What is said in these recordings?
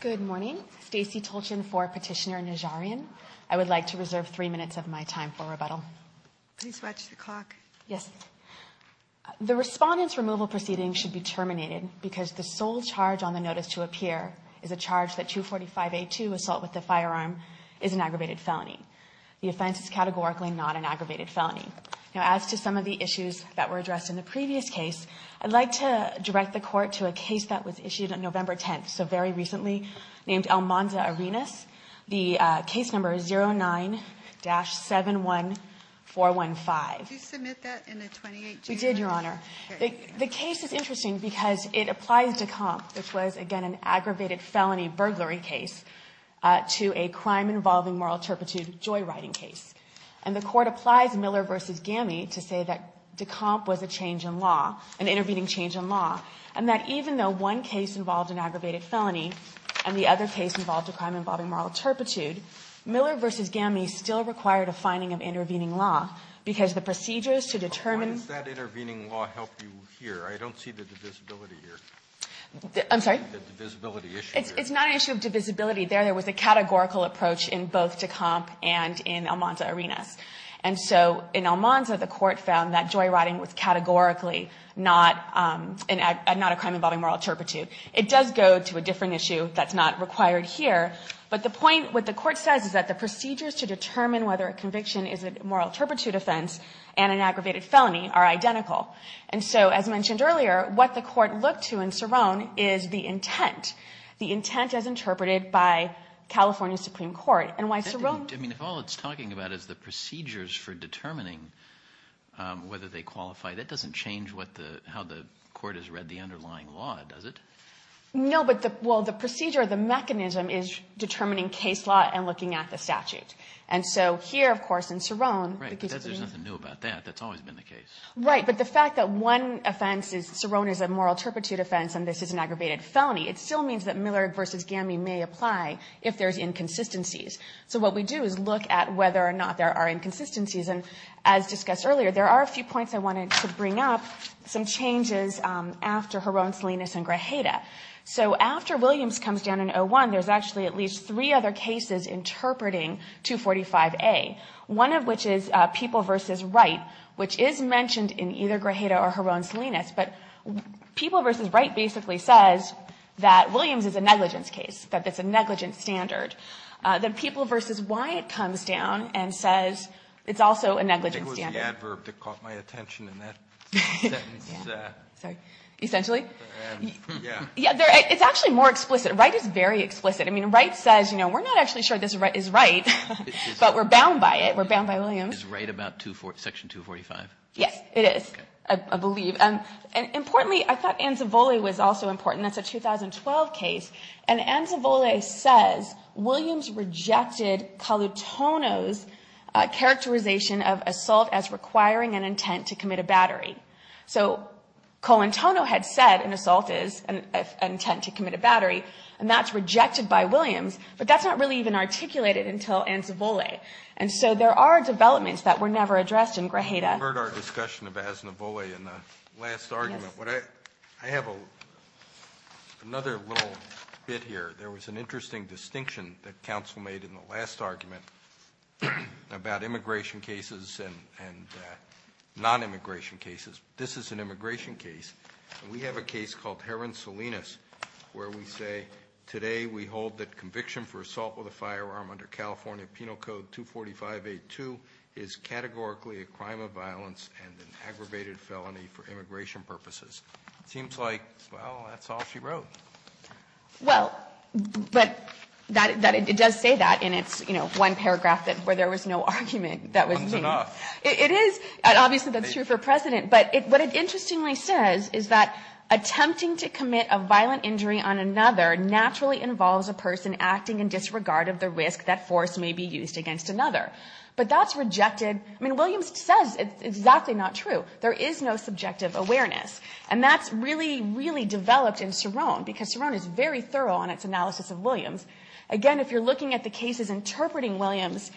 Good morning. Stacey Tolchin for Petitioner Najaryan. I would like to reserve three minutes of my time for rebuttal. Please watch the clock. Yes. The respondent's removal proceeding should be terminated because the sole charge on the notice to appear is a charge that 245A2, assault with the firearm, is an aggravated felony. The offense is categorically not an aggravated felony. Now as to some of the issues that were addressed in the previous case, I'd like to direct the court to a case that was issued on November 10th, so very recently, named Almanza Arenas. The case number is 09-71415. Did you submit that in the 28th? We did, Your Honor. The case is interesting because it applies to DeComp, which was again an aggravated felony burglary case, to a crime involving moral turpitude joy riding case. And the court applies Miller v. Gammy to say that DeComp was a change in law, an intervening change in law, and that even though one case involved an aggravated felony and the other case involved a crime involving moral turpitude, Miller v. Gammy still required a finding of intervening law because the procedures to determine Why does that intervening law help you here? I don't see the divisibility here. I'm sorry? The divisibility issue. It's not an issue of divisibility there. There was a categorical approach in both DeComp and in Almanza Arenas. And so in Almanza, the court found that joy riding was categorically not a crime involving moral turpitude. It does go to a different issue that's not required here. But the point, what the court says is that the procedures to determine whether a conviction is a moral turpitude offense and an aggravated felony are identical. And so, as mentioned earlier, what the court looked to in Cerrone is the intent, the intent as interpreted by California Supreme Court. And why Cerrone? I mean, if all it's talking about is the procedures for determining whether they qualify, that doesn't change what the how the court has read the underlying law, does it? No, but the well, the procedure, the mechanism is determining case law and looking at the statute. And so here, of course, in Cerrone, there's nothing new about that. That's always been the case. Right. But the fact that one offense is Cerrone is a moral turpitude offense and this is an aggravated felony, it still means that Miller v. Gami may apply if there's inconsistencies. So what we do is look at whether or not there are inconsistencies. And as discussed earlier, there are a few points I wanted to bring up, some changes after Jaron Salinas and Grajeda. So after Williams comes down in 01, there's actually at least three other cases interpreting 245A, one of which is People v. Wright, which is mentioned in either Grajeda or Jaron Salinas. But People v. Wright basically says that Williams is a negligence case, that it's a negligence standard. Then People v. Wyatt comes down and says it's also a negligence standard. It was the adverb that caught my attention in that sentence. Sorry. Essentially? Yeah. It's actually more explicit. Wright is very explicit. I mean, Wright says, you know, we're not actually sure this is right, but we're bound by it. We're bound by Williams. Is Wright about section 245? Yes, it is, I believe. And importantly, I thought Anzavoli was also important. That's a 2012 case. And Anzavoli says Williams rejected Colantono's characterization of assault as requiring an intent to commit a battery. So Colantono had said an assault is an intent to commit a battery, and that's rejected by Williams. But that's not really even articulated until Anzavoli. And so there are developments that were never addressed in Grajeda. You heard our discussion of Anzavoli in the last argument. I have another little bit here. There was an interesting distinction that counsel made in the last argument about immigration cases and non-immigration cases. This is an immigration case. We have a case called Heron Salinas, where we say, today we hold that conviction for assault with a firearm under California Penal Code 245A2 is categorically a crime of violence and an aggravated felony for immigration purposes. It seems like, well, that's all she wrote. Well, but it does say that in its one paragraph where there was no argument that was made. Fun's enough. It is. Obviously, that's true for precedent. But what it interestingly says is that attempting to commit a violent injury on another naturally involves a person acting in disregard of the risk that force may be used against another. But that's rejected. I mean, Williams says it's exactly not true. There is no subjective awareness. And that's really, really developed in Serone, because Serone is very thorough on its analysis of Williams. Again, if you're looking at the cases interpreting Williams,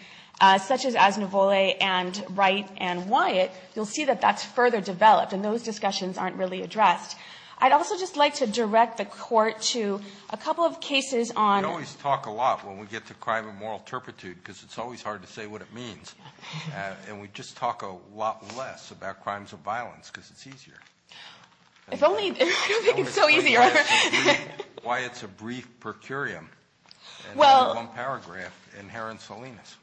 such as Anzavoli and Wright and Wyatt, you'll see that that's further developed and those discussions aren't really addressed. I'd also just like to direct the Court to a couple of cases on... It's hard to say what it means. And we just talk a lot less about crimes of violence because it's easier. If only... I don't think it's so easy. Why it's a brief per curiam. Well... In one paragraph in Heron Salinas.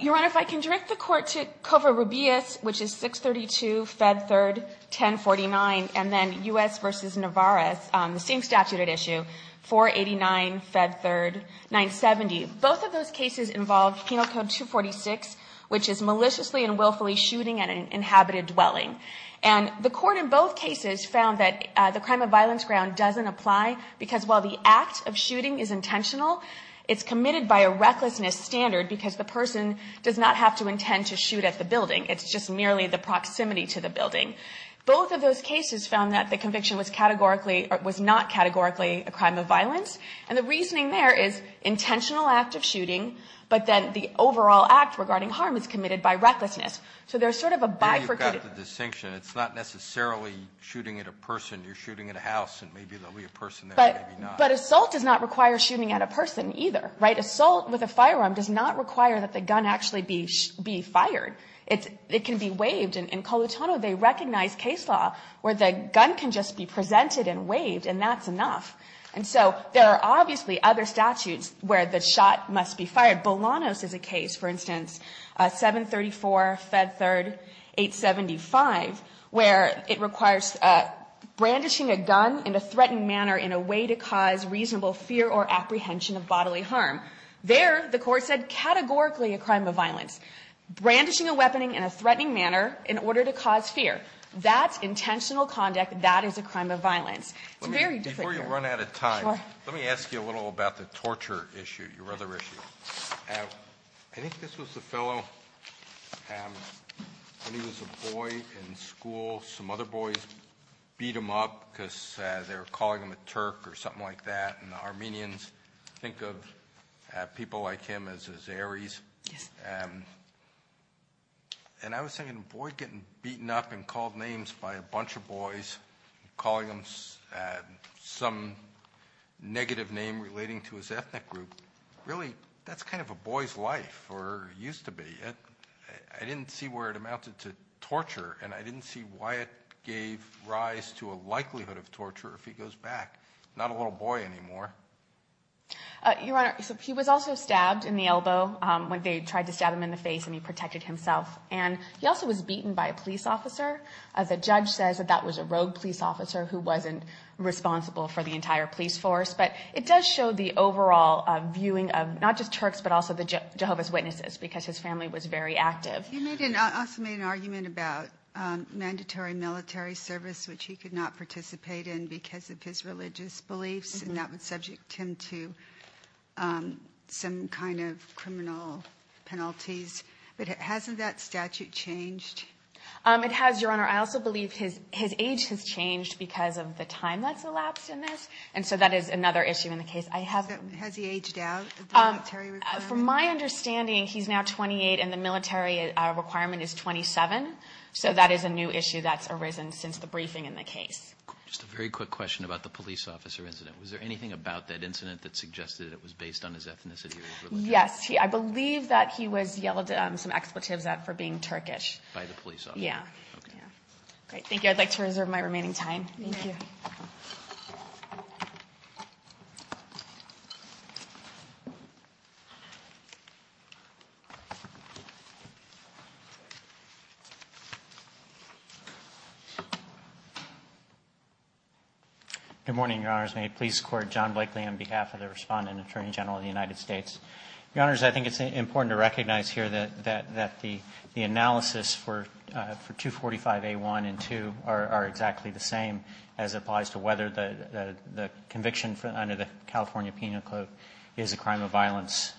Your Honor, if I can direct the Court to Covarrubias, which is 632, Fed 3rd, 1049, and then U.S. v. Navarez, the same statute at issue, 489, Fed 3rd, 970. Both of those cases involve Penal Code 246, which is maliciously and willfully shooting at an inhabited dwelling. And the Court in both cases found that the crime of violence ground doesn't apply, because while the act of shooting is intentional, it's committed by a recklessness standard, because the person does not have to intend to shoot at the building. It's just merely the proximity to the building. Both of those cases found that the conviction was not categorically a crime of act of shooting, but then the overall act regarding harm is committed by recklessness. So there's sort of a bifurcated... You've got the distinction. It's not necessarily shooting at a person. You're shooting at a house, and maybe there'll be a person there, maybe not. But assault does not require shooting at a person either, right? Assault with a firearm does not require that the gun actually be fired. It can be waived. In Colutono, they recognize case law where the gun can just be presented and waived, and that's enough. And so there are obviously other statutes where the shot must be fired. Bolanos is a case, for instance, 734 Fed Third 875, where it requires brandishing a gun in a threatened manner in a way to cause reasonable fear or apprehension of bodily harm. There, the Court said categorically a crime of violence. Brandishing a weapon in a threatening manner in order to cause fear. That's intentional conduct. That is a crime of violence. It's very difficult. Before you run out of time, let me ask you a little about the torture issue, your other issue. I think this was a fellow, when he was a boy in school, some other boys beat him up because they were calling him a Turk or something like that. And Armenians think of people like him as Ares. And I was thinking, a boy getting beaten up and called names by a bunch of boys, calling him some negative name relating to his ethnic group, really, that's kind of a boy's life, or used to be. I didn't see where it amounted to torture, and I didn't see why it gave rise to a likelihood of torture if he goes back. Not a little boy anymore. Your Honor, he was also stabbed in the elbow when they tried to stab him in the face and he protected himself. And he also was beaten by a police officer. The judge says that that was a rogue police officer who wasn't responsible for the entire police force. But it does show the overall viewing of not just Turks, but also the Jehovah's Witnesses, because his family was very active. He also made an argument about mandatory military service, which he could not participate in because of his religious beliefs, and that would subject him to some kind of criminal penalties. But hasn't that statute changed? It has, Your Honor. I also believe his age has changed because of the time that's elapsed in this. And so that is another issue in the case. Has he aged out? From my understanding, he's now 28 and the military requirement is 27. So that is a new issue that's arisen since the briefing in the case. Just a very quick question about the police officer incident. Was there anything about that incident that suggested it was based on his ethnicity or his religion? Yes. I believe that he was yelled some expletives at for being Turkish. By the police officer? Yes. Thank you. I'd like to reserve my remaining time. Thank you. Good morning, Your Honors. May it please the Court, John Blakely on behalf of the Respondent Attorney General of the United States. Your Honors, I think it's important to recognize here that the analysis for 245A1 and 245A2 are exactly the same as applies to whether the conviction under the California Penal Code is a crime of violence.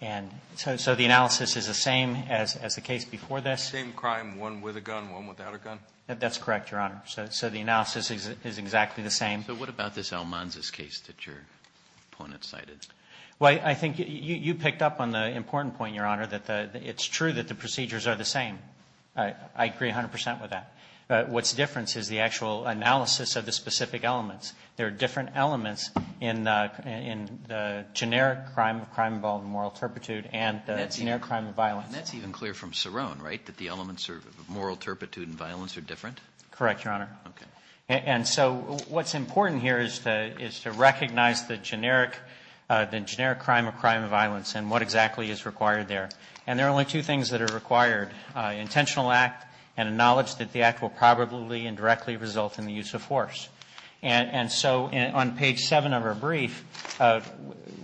And so the analysis is the same as the case before this. Same crime, one with a gun, one without a gun? That's correct, Your Honor. So the analysis is exactly the same. So what about this Almanza's case that your opponent cited? Well, I think you picked up on the important point, Your Honor, that it's true that the procedures are the same. I agree 100% with that. What's different is the actual analysis of the specific elements. There are different elements in the generic crime, crime involved in moral turpitude, and the generic crime of violence. And that's even clear from Cerrone, right? That the elements of moral turpitude and violence are different? Correct, Your Honor. Okay. And so what's important here is to recognize the generic crime or crime of violence and what exactly is required there. And there are only two things that are required, intentional act and a knowledge that the act will probably and directly result in the use of force. And so on page seven of our brief,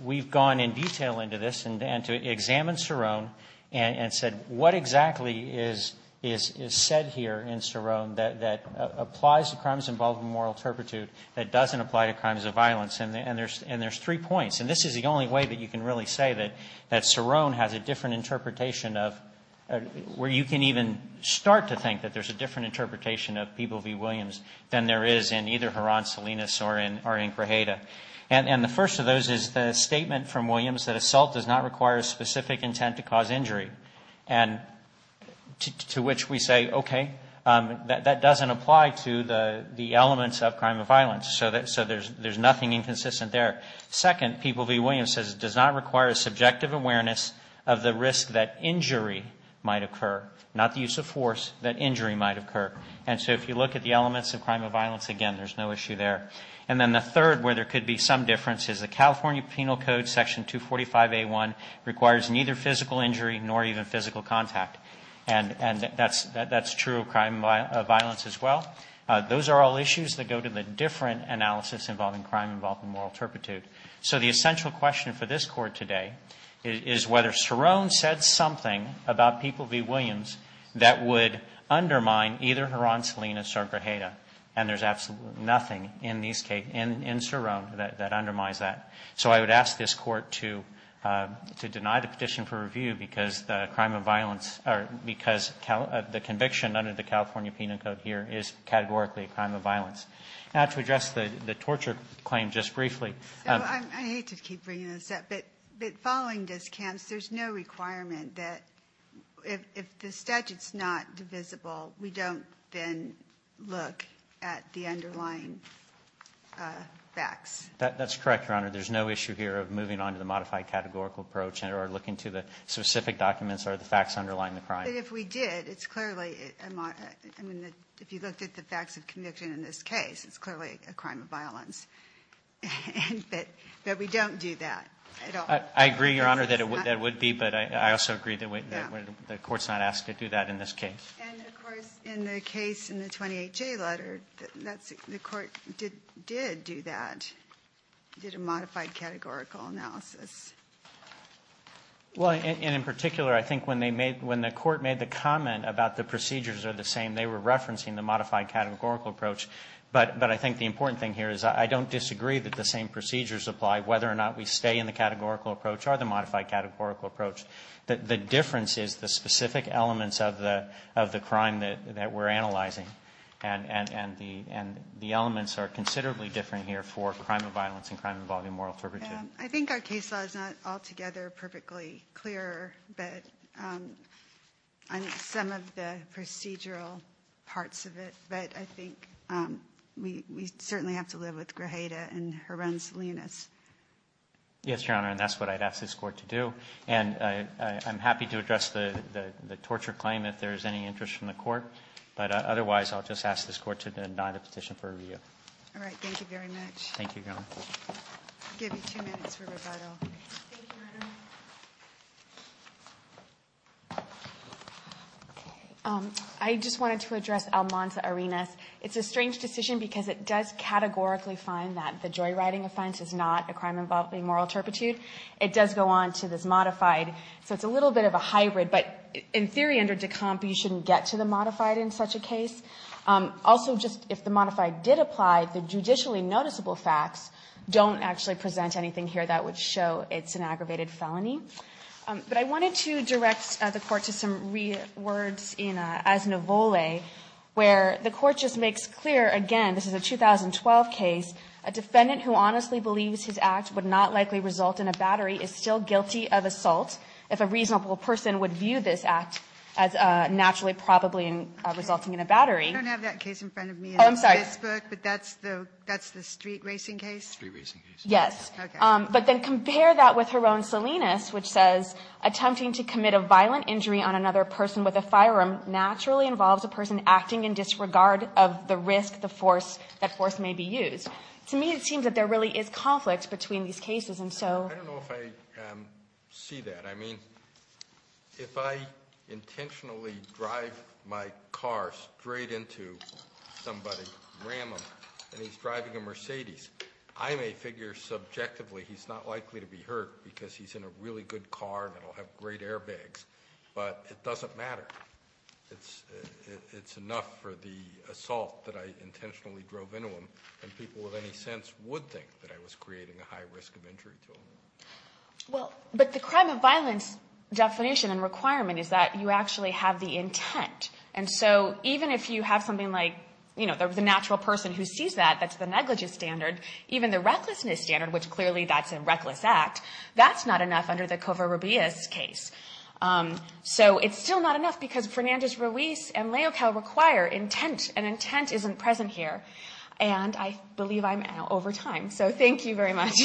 we've gone in detail into this and to examine Cerrone and said what exactly is said here in Cerrone that applies to crimes involved in moral turpitude that doesn't apply to crimes of violence? And there's three points. And this is the only way that you can really say that Cerrone has a different interpretation of where you can even start to think that there's a different interpretation of people v. Williams than there is in either Heron, Salinas or in Grajeda. And the first of those is the statement from Williams that assault does not require a specific intent to cause injury. And to which we say, okay, that doesn't apply to the elements of crime of violence. So there's nothing inconsistent there. Second, people v. Williams says it does not require a subjective awareness of the risk that injury might occur, not the use of force, that injury might occur. And so if you look at the elements of crime of violence, again, there's no issue there. And then the third where there could be some difference is the California Penal Code, Section 245A1, requires neither physical injury nor even physical contact. And that's true of crime of violence as well. Those are all issues that go to the different analysis involving crime involved in moral turpitude. So the essential question for this Court today is whether Cerrone said something about people v. Williams that would undermine either Heron, Salinas or Grajeda. And there's absolutely nothing in Cerrone that undermines that. So I would ask this Court to deny the petition for review because the conviction under the California Penal Code here is categorically a crime of violence. Now, to address the torture claim just briefly... So I hate to keep bringing this up, but following this, Kamps, there's no requirement that if the statute's not divisible, we don't then look at the underlying facts. That's correct, Your Honor. There's no issue here of moving on to the modified categorical approach or looking to the specific documents or the facts underlying the crime. But if we did, it's clearly... If you looked at the facts of conviction in this case, it's clearly a crime of violence. But we don't do that at all. I agree, Your Honor, that it would be, but I also agree that the Court's not asked to do that in this case. And, of course, in the case in the 28J letter, the Court did do that, did a modified categorical analysis. Well, and in particular, I think when the Court made the comment about the procedures are the same, they were referencing the modified categorical approach. But I think the important thing here is I don't disagree that the same procedures apply, whether or not we stay in the categorical approach or the modified categorical approach. The difference is the specific elements of the crime that we're analyzing. And the elements are considerably different here for crime of violence and crime involving moral turpitude. I think our case law is not altogether perfectly clear on some of the procedural parts of it. But I think we certainly have to live with Grajeda and her own salience. Yes, Your Honor, and that's what I'd ask this Court to do. And I'm happy to address the torture claim if there's any interest from the Court. But otherwise, I'll just ask this Court to deny the petition for review. All right, thank you very much. Thank you, Your Honor. I'll give you two minutes for rebuttal. I just wanted to address Almanza Arenas. It's a strange decision because it does categorically find that the joyriding offense is not a crime involving moral turpitude. It does go on to this modified. So it's a little bit of a hybrid. But in theory, under decomp, you shouldn't get to the modified in such a case. Also, just if the modified did apply, the judicially noticeable facts don't actually present anything here that would show it's an aggravated felony. But I wanted to direct the Court to some words in Asnivole, where the Court just makes clear, again, this is a 2012 case, a defendant who honestly believes his act would not likely result in a battery is still guilty of assault if a reasonable person would view this act as naturally probably resulting in a battery. I don't have that case in front of me. Oh, I'm sorry. That's the street racing case? Yes. But then compare that with her own Salinas, which says, attempting to commit a violent injury on another person with a firearm naturally involves a person acting in disregard of the risk that force may be used. To me, it seems that there really is conflict between these cases. I don't know if I see that. I mean, if I intentionally drive my car straight into somebody, ram him, and he's driving a Mercedes, I may figure subjectively he's not likely to be hurt because he's in a really good car and will have great airbags. But it doesn't matter. It's enough for the assault that I intentionally drove into him and people with any sense would think that I was creating a high risk of injury to him. But the crime of violence definition and requirement is that you actually have the intent. And so, even if you have something like the natural person who sees that, that's the negligence standard, even the recklessness standard, which clearly that's a reckless act, that's not enough under the Covarrubias case. So, it's still not enough because Fernandez Ruiz and Leocal require intent, and intent isn't present here. And I believe I'm out over time. So, thank you very much.